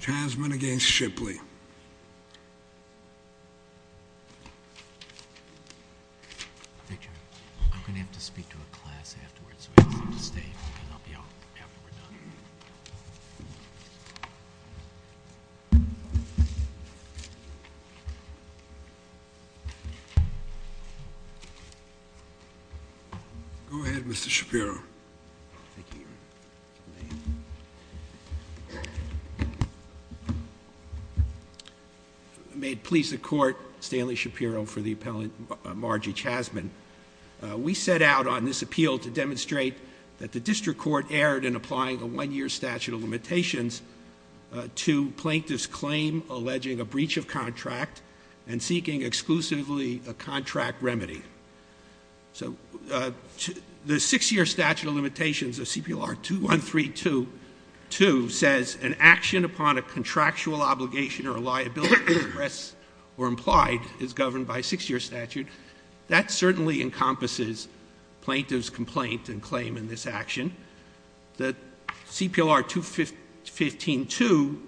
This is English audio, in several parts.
Chassman v. Shipley Go ahead, Mr. Shapiro May it please the court, Stanley Shapiro for the appellant Margie Chassman. We set out on this appeal to demonstrate that the district court erred in applying a one-year statute of limitations to plaintiff's claim alleging a breach of contract and seeking exclusively a contract remedy. So the six-year statute of limitations of CPLR 213.2 says an action upon a contractual obligation or liability expressed or implied is governed by a six-year statute. That certainly encompasses plaintiff's complaint and claim in this action. The CPLR 215.2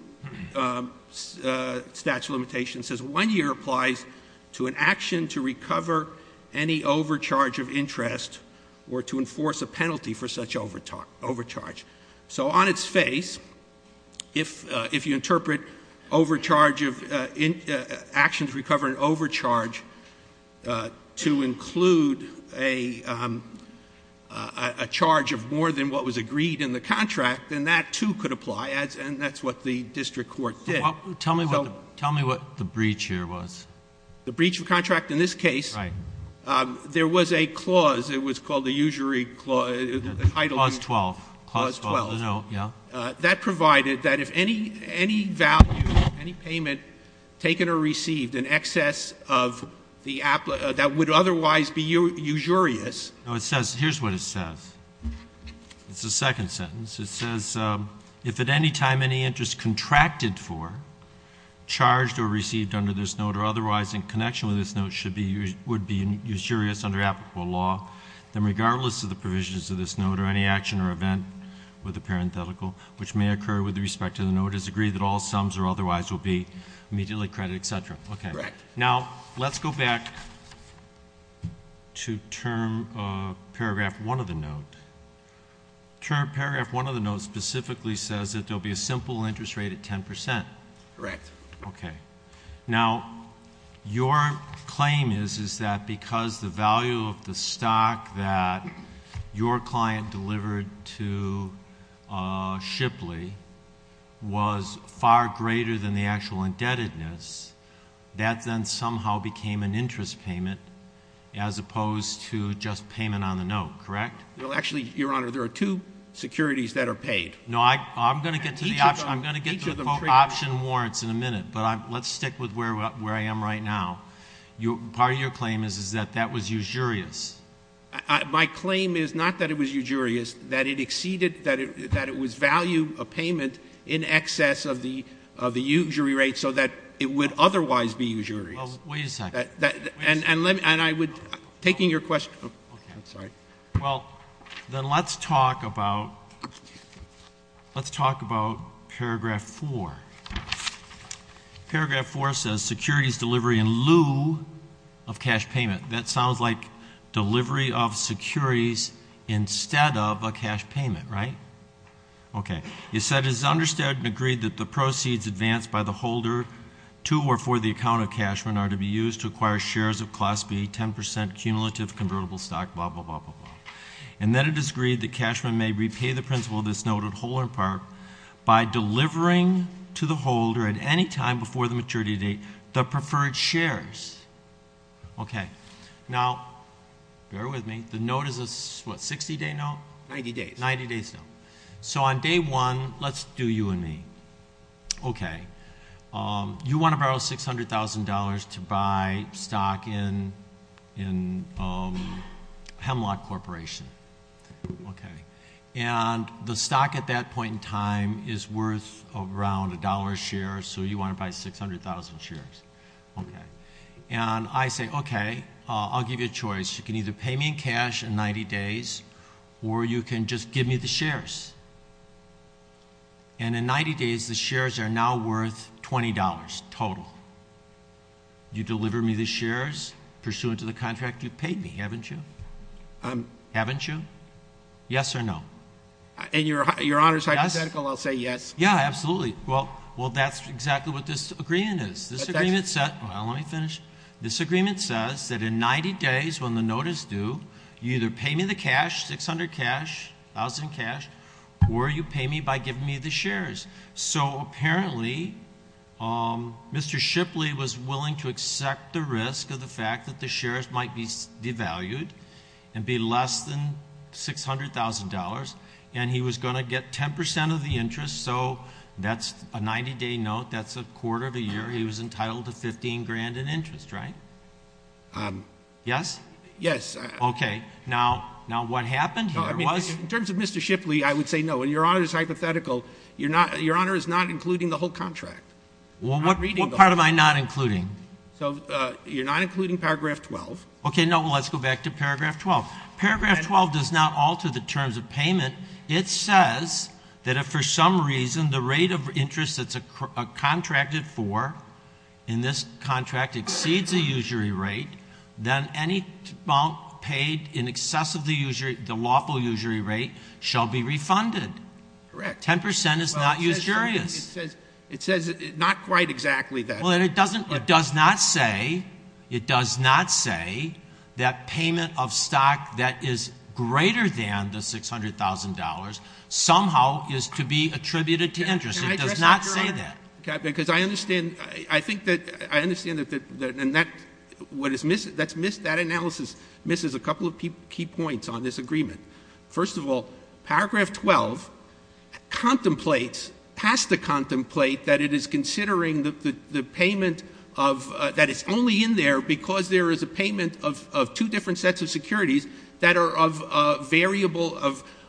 statute of limitations says one year applies to an action to recover any overcharge of interest or to enforce a penalty for such overcharge. So on its face, if you interpret actions recovering overcharge to include a charge of more than what was agreed in the contract, then that, too, could apply, and that's what the district court did. Tell me what the breach here was. The breach of contract in this case, there was a clause. It was called the usury clause. Clause 12. Clause 12. That provided that if any value, any payment taken or received in excess of the — that would otherwise be usurious. Here's what it says. It's the second sentence. It says, if at any time any interest contracted for, charged, or received under this note or otherwise in connection with this note would be usurious under applicable law, then regardless of the provisions of this note or any action or event with a parenthetical, which may occur with respect to the note, it is agreed that all sums or otherwise will be immediately credited, et cetera. Correct. Now, let's go back to paragraph 1 of the note. Paragraph 1 of the note specifically says that there will be a simple interest rate of 10%. Correct. Okay. Now, your claim is, is that because the value of the stock that your client delivered to Shipley was far greater than the actual indebtedness, that then somehow became an interest payment as opposed to just payment on the note, correct? Well, actually, Your Honor, there are two securities that are paid. No, I'm going to get to the option warrants in a minute, but let's stick with where I am right now. Part of your claim is that that was usurious. My claim is not that it was usurious, that it exceeded — that it was value of payment in excess of the usury rate so that it would otherwise be usurious. Well, wait a second. And I would — taking your question — okay, I'm sorry. Well, then let's talk about — let's talk about paragraph 4. Paragraph 4 says securities delivery in lieu of cash payment. That sounds like delivery of securities instead of a cash payment, right? Okay. You said it is understood and agreed that the proceeds advanced by the holder to or for the account of cashman are to be used to acquire shares of Class B, 10 percent cumulative convertible stock, blah, blah, blah, blah, blah. And that it is agreed that cashman may repay the principal of this note at whole or in part by delivering to the holder at any time before the maturity date the preferred shares. Okay. Now, bear with me. The note is a, what, 60-day note? 90 days. 90 days note. So on day one, let's do you and me. Okay. You want to borrow $600,000 to buy stock in Hemlock Corporation. Okay. And the stock at that point in time is worth around a dollar a share, so you want to buy 600,000 shares. Okay. And I say, okay, I'll give you a choice. You can either pay me in cash in 90 days or you can just give me the shares. And in 90 days, the shares are now worth $20 total. You deliver me the shares pursuant to the contract you paid me, haven't you? Haven't you? Yes or no? In Your Honor's hypothetical, I'll say yes. Yeah, absolutely. Well, that's exactly what this agreement is. Well, let me finish. This agreement says that in 90 days when the note is due, you either pay me the cash, 600 cash, 1,000 cash, or you pay me by giving me the shares. So apparently, Mr. Shipley was willing to accept the risk of the fact that the shares might be devalued and be less than $600,000, and he was going to get 10% of the interest. So that's a 90-day note. That's a quarter of a year. He was entitled to $15,000 in interest, right? Yes? Yes. Okay. Now, what happened here was? In terms of Mr. Shipley, I would say no. In Your Honor's hypothetical, Your Honor is not including the whole contract. Well, what part am I not including? You're not including paragraph 12. Okay, no, let's go back to paragraph 12. Paragraph 12 does not alter the terms of payment. It says that if for some reason the rate of interest that's contracted for in this contract exceeds a usury rate, then any amount paid in excess of the lawful usury rate shall be refunded. Correct. 10% is not usurious. It says not quite exactly that. Well, it does not say that payment of stock that is greater than the $600,000 somehow is to be attributed to interest. It does not say that. Can I address that, Your Honor? Because I understand that that analysis misses a couple of key points on this agreement. First of all, paragraph 12 contemplates, has to contemplate, that it is considering the payment of, that it's only in there because there is a payment of two different sets of securities that are of variable,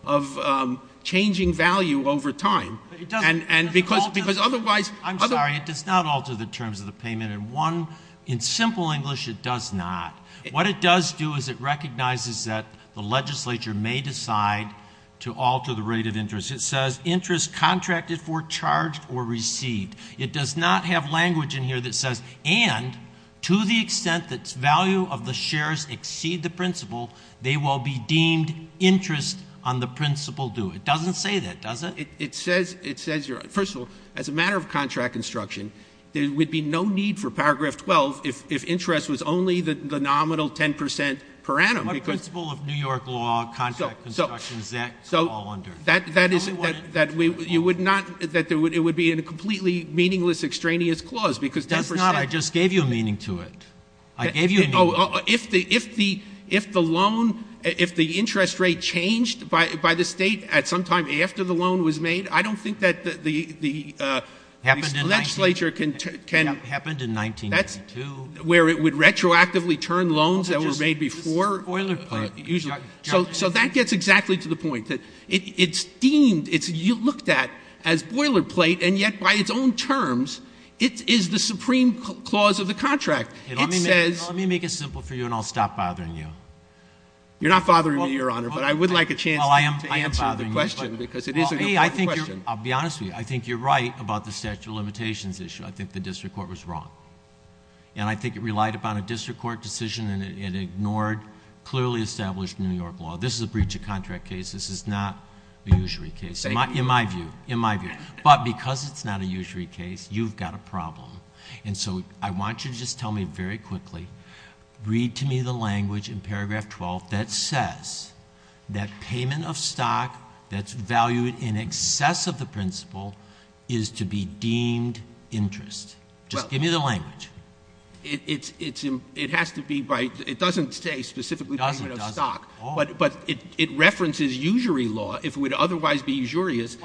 of changing value over time. But it doesn't. And because otherwise. I'm sorry. It does not alter the terms of the payment. And one, in simple English, it does not. What it does do is it recognizes that the legislature may decide to alter the rate of interest. It says interest contracted for, charged, or received. It does not have language in here that says, and to the extent that value of the shares exceed the principal, they will be deemed interest on the principal due. It doesn't say that, does it? It says, it says, Your Honor, first of all, as a matter of contract instruction, there would be no need for paragraph 12 if interest was only the nominal 10 percent per annum. What principle of New York law, contract instructions, is that all under? That is, that we, you would not, that it would be in a completely meaningless, extraneous clause because 10 percent. It does not. I just gave you a meaning to it. I gave you a meaning. If the, if the, if the loan, if the interest rate changed by the State at some time after the loan was made, I don't think that the, the, the legislature can, can. Happened in 1932. That's where it would retroactively turn loans that were made before. Boilerplate. So, so that gets exactly to the point that it's deemed, it's looked at as boilerplate, and yet by its own terms it is the supreme clause of the contract. It says. Let me make it simple for you and I'll stop bothering you. You're not bothering me, Your Honor, but I would like a chance to answer the question because it is a good question. I'll be honest with you. I think you're right about the statute of limitations issue. I think the district court was wrong. And I think it relied upon a district court decision and it ignored clearly established New York law. This is a breach of contract case. This is not a usury case. In my view. In my view. But because it's not a usury case, you've got a problem. And so I want you to just tell me very quickly, read to me the language in paragraph 12 that says, that payment of stock that's valued in excess of the principal is to be deemed interest. Just give me the language. It has to be by, it doesn't say specifically payment of stock. It doesn't, it doesn't. But it references usury law if it would otherwise be usurious.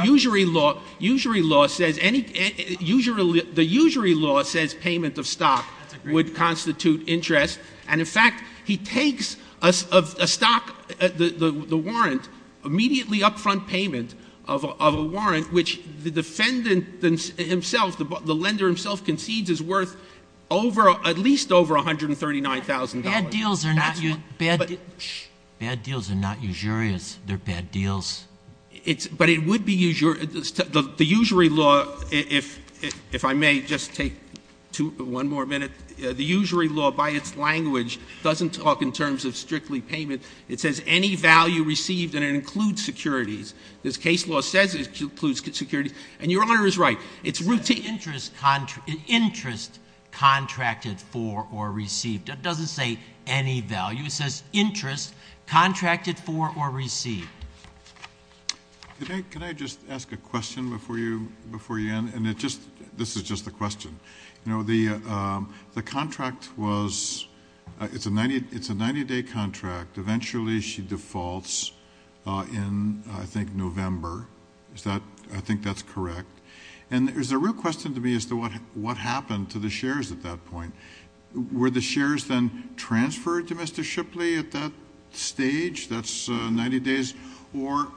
Usury law says any, the usury law says payment of stock would constitute interest. And in fact, he takes a stock, the warrant, immediately upfront payment of a warrant, which the defendant himself, the lender himself concedes is worth over, at least over $139,000. Bad deals are not usurious. They're bad deals. But it would be usury, the usury law, if I may just take one more minute. The usury law by its language doesn't talk in terms of strictly payment. It says any value received, and it includes securities. This case law says it includes securities. And Your Honor is right. It's routine. It says interest contracted for or received. It doesn't say any value. It says interest contracted for or received. Can I just ask a question before you end? And it just, this is just a question. You know, the contract was, it's a 90-day contract. Eventually she defaults in, I think, November. Is that, I think that's correct. And there's a real question to me as to what happened to the shares at that point. Were the shares then transferred to Mr. Shipley at that stage? That's 90 days. Or,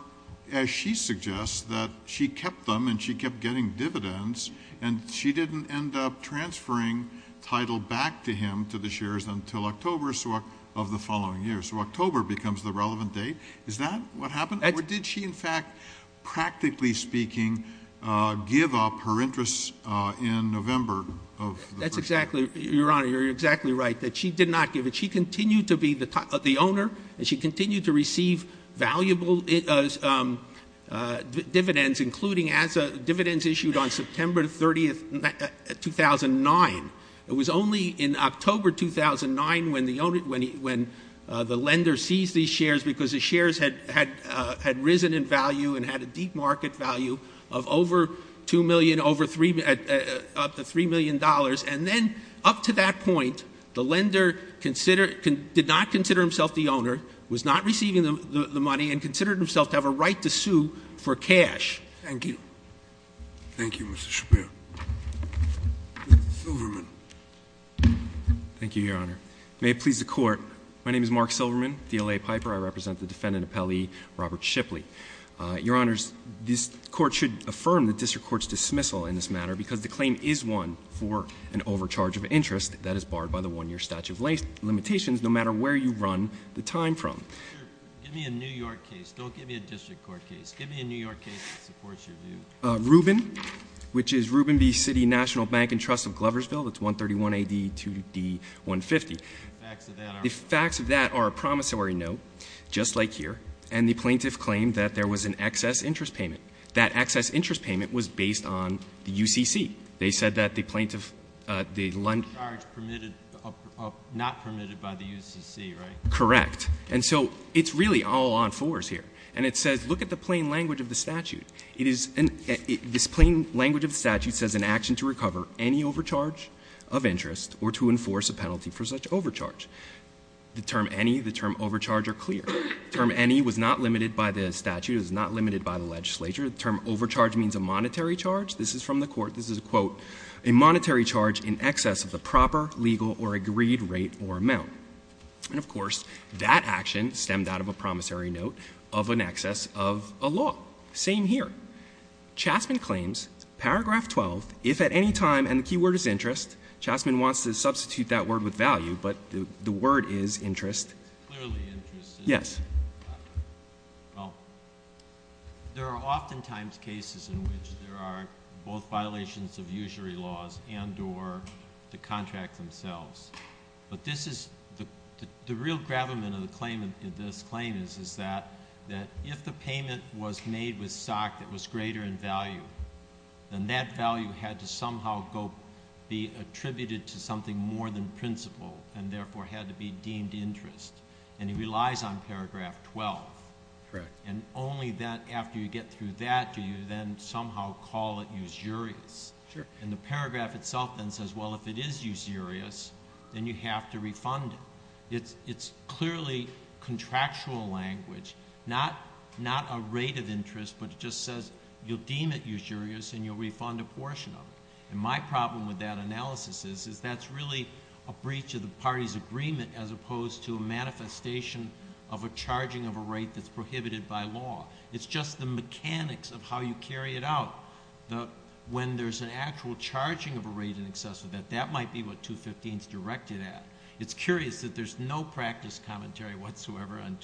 as she suggests, that she kept them and she kept getting dividends, and she didn't end up transferring title back to him to the shares until October of the following year. So October becomes the relevant date. Is that what happened? Or did she, in fact, practically speaking, give up her interest in November of the first year? That's exactly, Your Honor, you're exactly right, that she did not give it. But she continued to be the owner and she continued to receive valuable dividends, including dividends issued on September 30, 2009. It was only in October 2009 when the lender seized these shares because the shares had risen in value and had a deep market value of over $2 million, up to $3 million. And then up to that point, the lender did not consider himself the owner, was not receiving the money, and considered himself to have a right to sue for cash. Thank you. Thank you, Mr. Shapiro. Mr. Silverman. Thank you, Your Honor. May it please the Court. My name is Mark Silverman, DLA Piper. I represent the defendant appellee, Robert Shipley. Your Honors, this court should affirm the district court's dismissal in this matter because the claim is one for an overcharge of interest that is barred by the one-year statute of limitations, no matter where you run the time from. Give me a New York case. Don't give me a district court case. Give me a New York case that supports your view. Rubin, which is Rubin v. City National Bank and Trust of Gloversville. That's 131 AD 2D 150. The facts of that are a promissory note, just like here. And the plaintiff claimed that there was an excess interest payment. That excess interest payment was based on the UCC. They said that the plaintiff, the Lund ---- Overcharge permitted, not permitted by the UCC, right? Correct. And so it's really all on fours here. And it says, look at the plain language of the statute. It is, this plain language of the statute says an action to recover any overcharge of interest or to enforce a penalty for such overcharge. The term any, the term overcharge are clear. The term any was not limited by the statute. It was not limited by the legislature. The term overcharge means a monetary charge. This is from the court. This is, quote, a monetary charge in excess of the proper legal or agreed rate or amount. And, of course, that action stemmed out of a promissory note of an excess of a law. Same here. Chastman claims, paragraph 12, if at any time, and the key word is interest, Chastman wants to substitute that word with value, but the word is interest. Clearly interest. Yes. Well, there are oftentimes cases in which there are both violations of usury laws and or the contract themselves. But this is, the real gravamen of the claim, of this claim is, is that if the payment was made with stock that was greater in value, then that value had to somehow go, be attributed to something more than principal and, therefore, had to be deemed interest. And he relies on paragraph 12. Correct. And only then, after you get through that, do you then somehow call it usurious. Sure. And the paragraph itself then says, well, if it is usurious, then you have to refund it. It's clearly contractual language, not a rate of interest, but it just says you'll deem it usurious and you'll refund a portion of it. And my problem with that analysis is that's really a breach of the party's agreement as opposed to a manifestation of a charging of a rate that's prohibited by law. It's just the mechanics of how you carry it out. When there's an actual charging of a rate in excess of that, that might be what 215 is directed at. It's curious that there's no practice commentary whatsoever on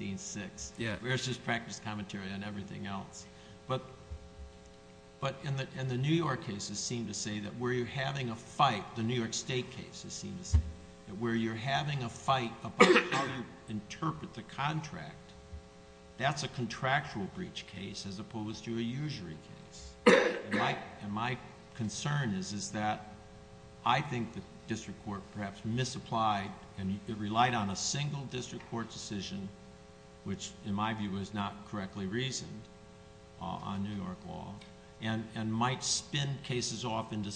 215-6. Yeah. There's just practice commentary on everything else. But in the New York cases seem to say that where you're having a fight, the New York State cases seem to say that where you're having a fight about how you interpret the contract, that's a contractual breach case as opposed to a usury case. And my concern is that I think the district court perhaps misapplied and relied on a single district court decision, which in my view is not correctly reasoned on New York law, and might spin cases off into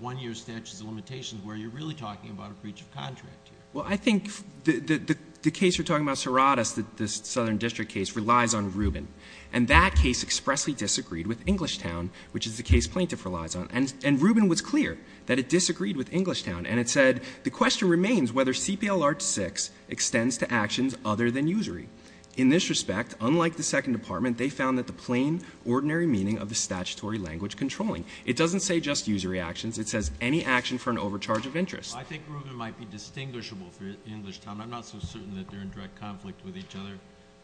one-year statutes of limitations where you're really talking about a breach of contract here. Well, I think the case you're talking about, Serratus, the southern district case, relies on Rubin. And that case expressly disagreed with Englishtown, which is the case plaintiff relies on. And Rubin was clear that it disagreed with Englishtown. And it said, The question remains whether CPLR 6 extends to actions other than usury. In this respect, unlike the Second Department, they found that the plain, ordinary meaning of the statutory language controlling. It doesn't say just usury actions. It says any action for an overcharge of interest. I think Rubin might be distinguishable for Englishtown. I'm not so certain that they're in direct conflict with each other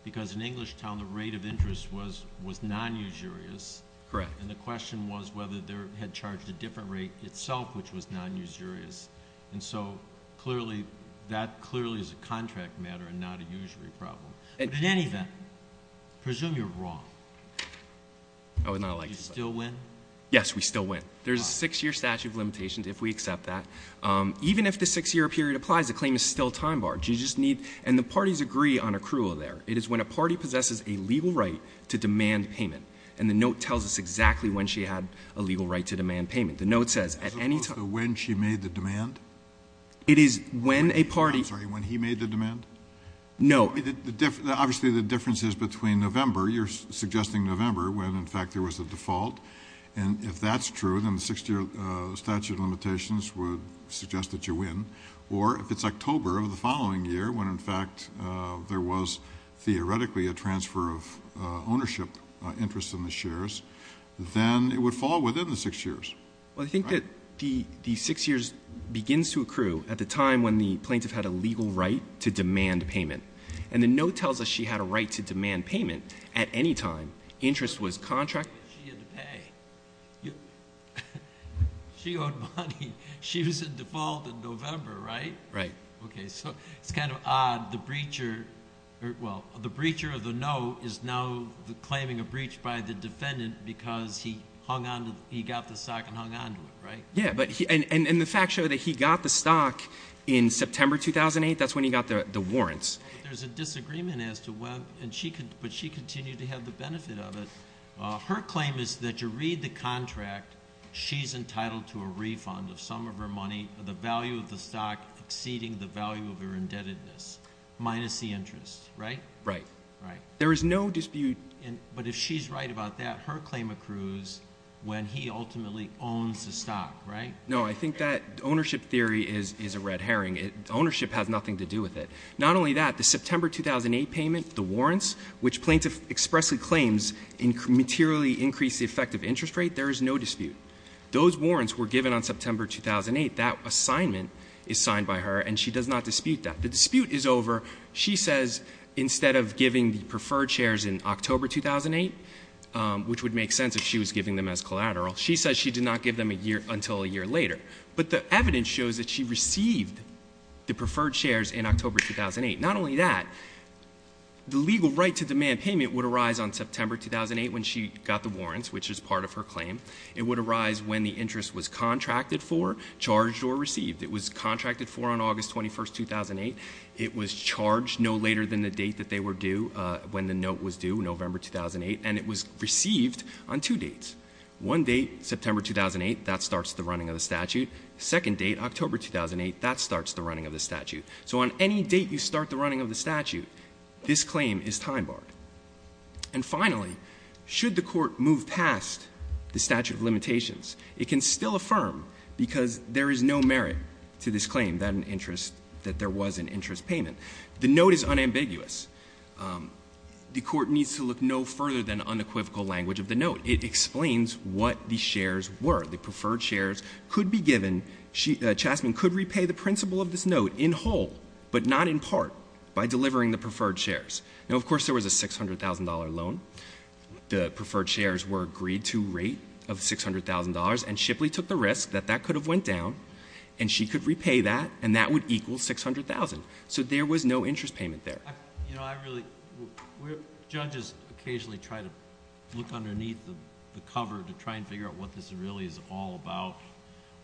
because in Englishtown the rate of interest was non-usurious. Correct. And the question was whether they had charged a different rate itself, which was non-usurious. And so clearly that clearly is a contract matter and not a usury problem. But in any event, I presume you're wrong. I would not like to say. Do you still win? Yes, we still win. There's a six-year statute of limitations if we accept that. Even if the six-year period applies, the claim is still time barred. You just need, and the parties agree on accrual there. It is when a party possesses a legal right to demand payment. And the note tells us exactly when she had a legal right to demand payment. The note says at any time. So when she made the demand? It is when a party. I'm sorry, when he made the demand? No. Obviously the difference is between November. You're suggesting November when, in fact, there was a default. And if that's true, then the six-year statute of limitations would suggest that you win. Or if it's October of the following year when, in fact, there was theoretically a transfer of ownership interest in the shares, then it would fall within the six years. Well, I think that the six years begins to accrue at the time when the plaintiff had a legal right to demand payment. And the note tells us she had a right to demand payment at any time. Interest was contracted. She had to pay. She owed money. She was in default in November, right? Right. Okay. So it's kind of odd. Well, the breacher of the note is now claiming a breach by the defendant because he got the stock and hung on to it, right? Yeah. And the facts show that he got the stock in September 2008. That's when he got the warrants. There's a disagreement as to when. But she continued to have the benefit of it. Her claim is that to read the contract, she's entitled to a refund of some of her money, the value of the stock exceeding the value of her indebtedness, minus the interest, right? Right. There is no dispute. But if she's right about that, her claim accrues when he ultimately owns the stock, right? No, I think that ownership theory is a red herring. Ownership has nothing to do with it. Not only that, the September 2008 payment, the warrants, which plaintiff expressly claims materially increase the effective interest rate, there is no dispute. Those warrants were given on September 2008. That assignment is signed by her and she does not dispute that. The dispute is over. She says instead of giving the preferred shares in October 2008, which would make sense if she was giving them as collateral, she says she did not give them until a year later. But the evidence shows that she received the preferred shares in October 2008. Not only that, the legal right to demand payment would arise on September 2008 when she got the warrants, which is part of her claim. It would arise when the interest was contracted for, charged, or received. It was contracted for on August 21, 2008. It was charged no later than the date that they were due, when the note was due, November 2008. And it was received on two dates. One date, September 2008, that starts the running of the statute. Second date, October 2008, that starts the running of the statute. So on any date you start the running of the statute, this claim is time barred. And finally, should the court move past the statute of limitations, it can still affirm because there is no merit to this claim that there was an interest payment. The note is unambiguous. The court needs to look no further than unequivocal language of the note. It explains what the shares were. The preferred shares could be given. Chastman could repay the principal of this note in whole, but not in part, by delivering the preferred shares. Now, of course, there was a $600,000 loan. The preferred shares were agreed to rate of $600,000, and Shipley took the risk that that could have went down, and she could repay that, and that would equal $600,000. So there was no interest payment there. You know, I really, judges occasionally try to look underneath the cover to try and figure out what this really is all about.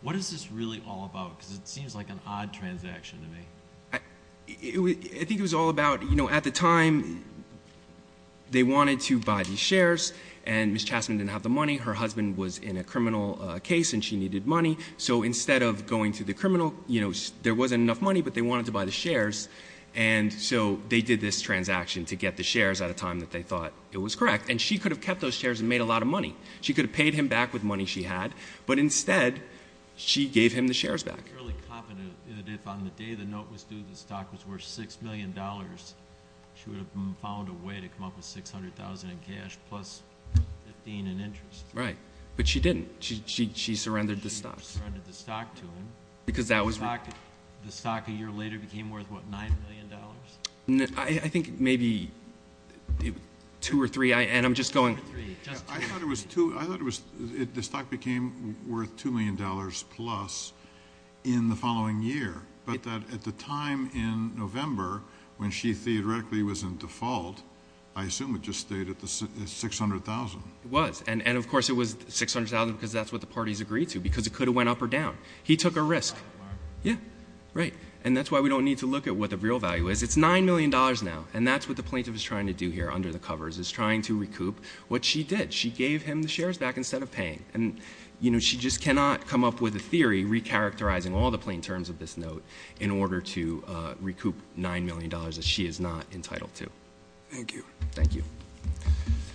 What is this really all about? Because it seems like an odd transaction to me. I think it was all about, you know, at the time, they wanted to buy the shares, and Ms. Chastman didn't have the money. Her husband was in a criminal case, and she needed money. So instead of going to the criminal, you know, there wasn't enough money, but they wanted to buy the shares. And so they did this transaction to get the shares at a time that they thought it was correct. And she could have kept those shares and made a lot of money. She could have paid him back with money she had, but instead, she gave him the shares back. I'm fairly confident that if on the day the note was due, the stock was worth $6 million, she would have found a way to come up with $600,000 in cash plus 15 in interest. Right. But she didn't. She surrendered the stock. She surrendered the stock to him. Because that was... The stock a year later became worth, what, $9 million? I think maybe two or three, and I'm just going... I thought the stock became worth $2 million plus in the following year, but at the time in November when she theoretically was in default, I assume it just stayed at $600,000. It was. And, of course, it was $600,000 because that's what the parties agreed to, because it could have went up or down. He took a risk. Yeah. Right. And that's why we don't need to look at what the real value is. It's $9 million now, and that's what the plaintiff is trying to do here under the covers, is trying to recoup what she did. She gave him the shares back instead of paying. And, you know, she just cannot come up with a theory recharacterizing all the plain terms of this note in order to recoup $9 million that she is not entitled to. Thank you. Thank you.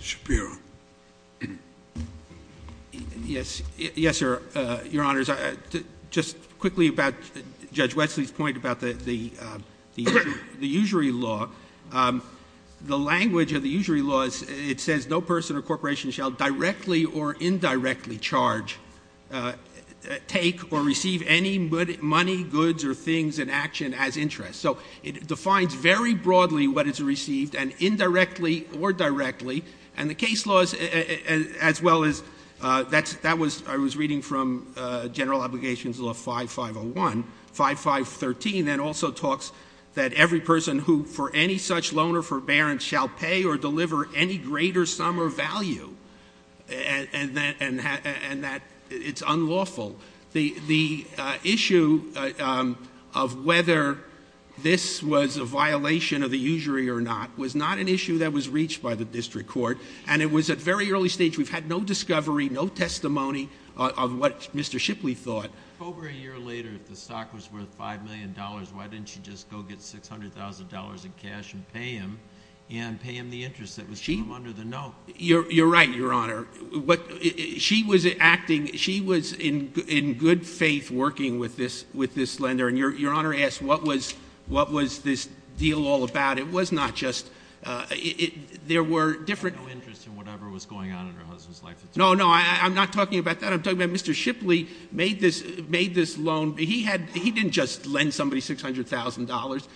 Shapiro. Yes, Your Honors. Just quickly about Judge Wesley's point about the usury law. The language of the usury laws, it says, no person or corporation shall directly or indirectly charge, take, or receive any money, goods, or things in action as interest. So it defines very broadly what is received, and indirectly or directly. And the case laws, as well as that was I was reading from General Obligations Law 5501, 5513, that also talks that every person who, for any such loan or forbearance, shall pay or deliver any greater sum or value, and that it's unlawful. The issue of whether this was a violation of the usury or not was not an issue that was reached by the district court, and it was at very early stage. We've had no discovery, no testimony of what Mr. Shipley thought. So over a year later, if the stock was worth $5 million, why didn't you just go get $600,000 in cash and pay him and pay him the interest that was under the note? You're right, Your Honor. She was acting, she was in good faith working with this lender, and Your Honor asked what was this deal all about. It was not just, there were different. She had no interest in whatever was going on in her husband's life. No, no, I'm not talking about that. I'm talking about Mr. Shipley made this loan. He didn't just lend somebody $600,000.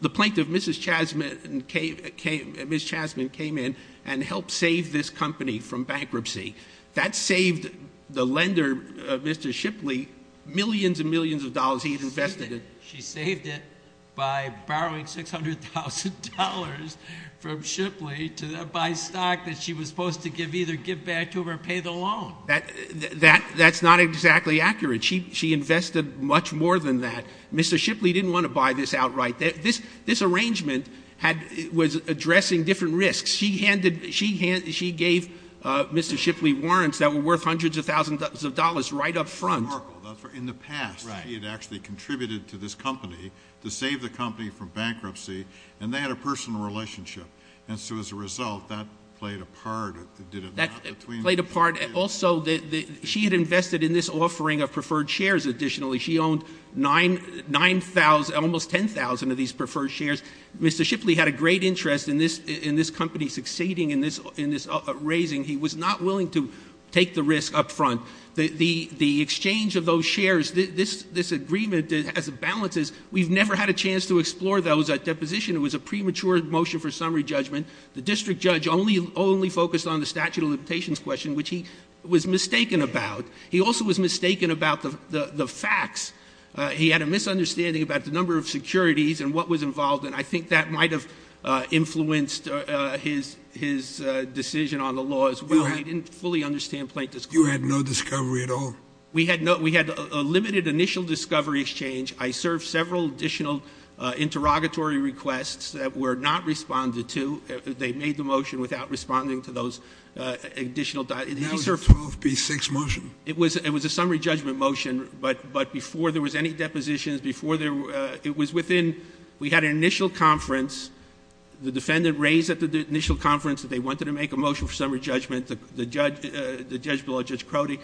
The plaintiff, Mrs. Chasman, came in and helped save this company from bankruptcy. That saved the lender, Mr. Shipley, millions and millions of dollars. He invested it. She saved it by borrowing $600,000 from Shipley to buy stock that she was supposed to either give back to him or pay the loan. That's not exactly accurate. She invested much more than that. Mr. Shipley didn't want to buy this outright. This arrangement was addressing different risks. She gave Mr. Shipley warrants that were worth hundreds of thousands of dollars right up front. In the past, she had actually contributed to this company to save the company from bankruptcy, and they had a personal relationship. And so as a result, that played a part. That played a part. Also, she had invested in this offering of preferred shares additionally. She owned 9,000, almost 10,000 of these preferred shares. Mr. Shipley had a great interest in this company succeeding in this raising. He was not willing to take the risk up front. The exchange of those shares, this agreement as it balances, we've never had a chance to explore those at deposition. It was a premature motion for summary judgment. The district judge only focused on the statute of limitations question, which he was mistaken about. He also was mistaken about the facts. He had a misunderstanding about the number of securities and what was involved, and I think that might have influenced his decision on the law as well. No, I didn't fully understand plaintiff's claim. You had no discovery at all? We had a limited initial discovery exchange. I served several additional interrogatory requests that were not responded to. They made the motion without responding to those additional. Now it's a 12B6 motion. It was a summary judgment motion, but before there was any depositions, it was within. We had an initial conference. The defendant raised at the initial conference that they wanted to make a motion for summary judgment. The judge below, Judge Crotty,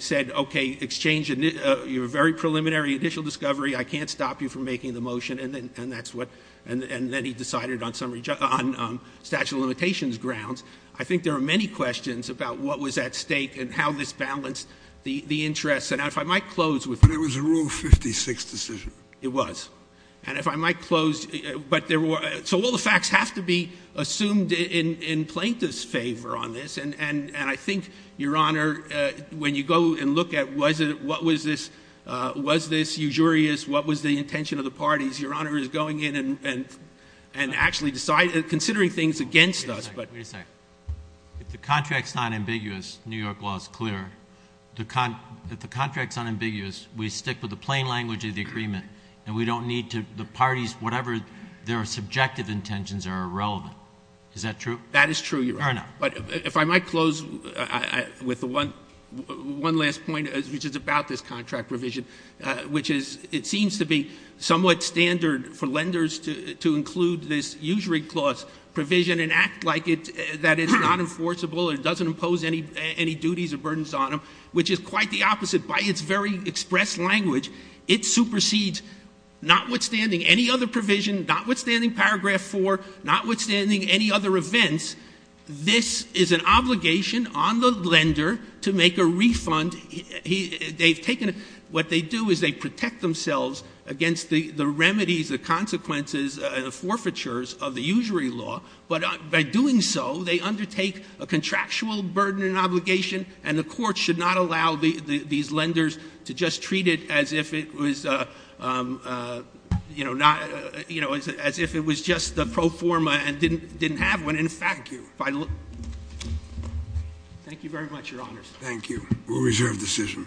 said, okay, exchange your very preliminary initial discovery. I can't stop you from making the motion, and then he decided on statute of limitations grounds. I think there are many questions about what was at stake and how this balanced the interests. And if I might close with that. But it was a Rule 56 decision. It was. And if I might close. So all the facts have to be assumed in plaintiff's favor on this. And I think, Your Honor, when you go and look at what was this usurious, what was the intention of the parties, Your Honor is going in and actually considering things against us. Wait a second. If the contract's not ambiguous, New York law is clear. If the contract's unambiguous, we stick with the plain language of the agreement. And we don't need the parties, whatever their subjective intentions, are irrelevant. Is that true? That is true, Your Honor. But if I might close with one last point, which is about this contract revision, which is it seems to be somewhat standard for lenders to include this usury clause provision and act like it's not enforceable, it doesn't impose any duties or burdens on them, which is quite the opposite. By its very express language, it supersedes notwithstanding any other provision, notwithstanding paragraph 4, notwithstanding any other events, this is an obligation on the lender to make a refund. They've taken — what they do is they protect themselves against the remedies, the consequences, the forfeitures of the usury law. But by doing so, they undertake a contractual burden and obligation, and the court should not allow these lenders to just treat it as if it was, you know, as if it was just the pro forma and didn't have one. Thank you. Thank you very much, Your Honors. Thank you. We'll reserve decision.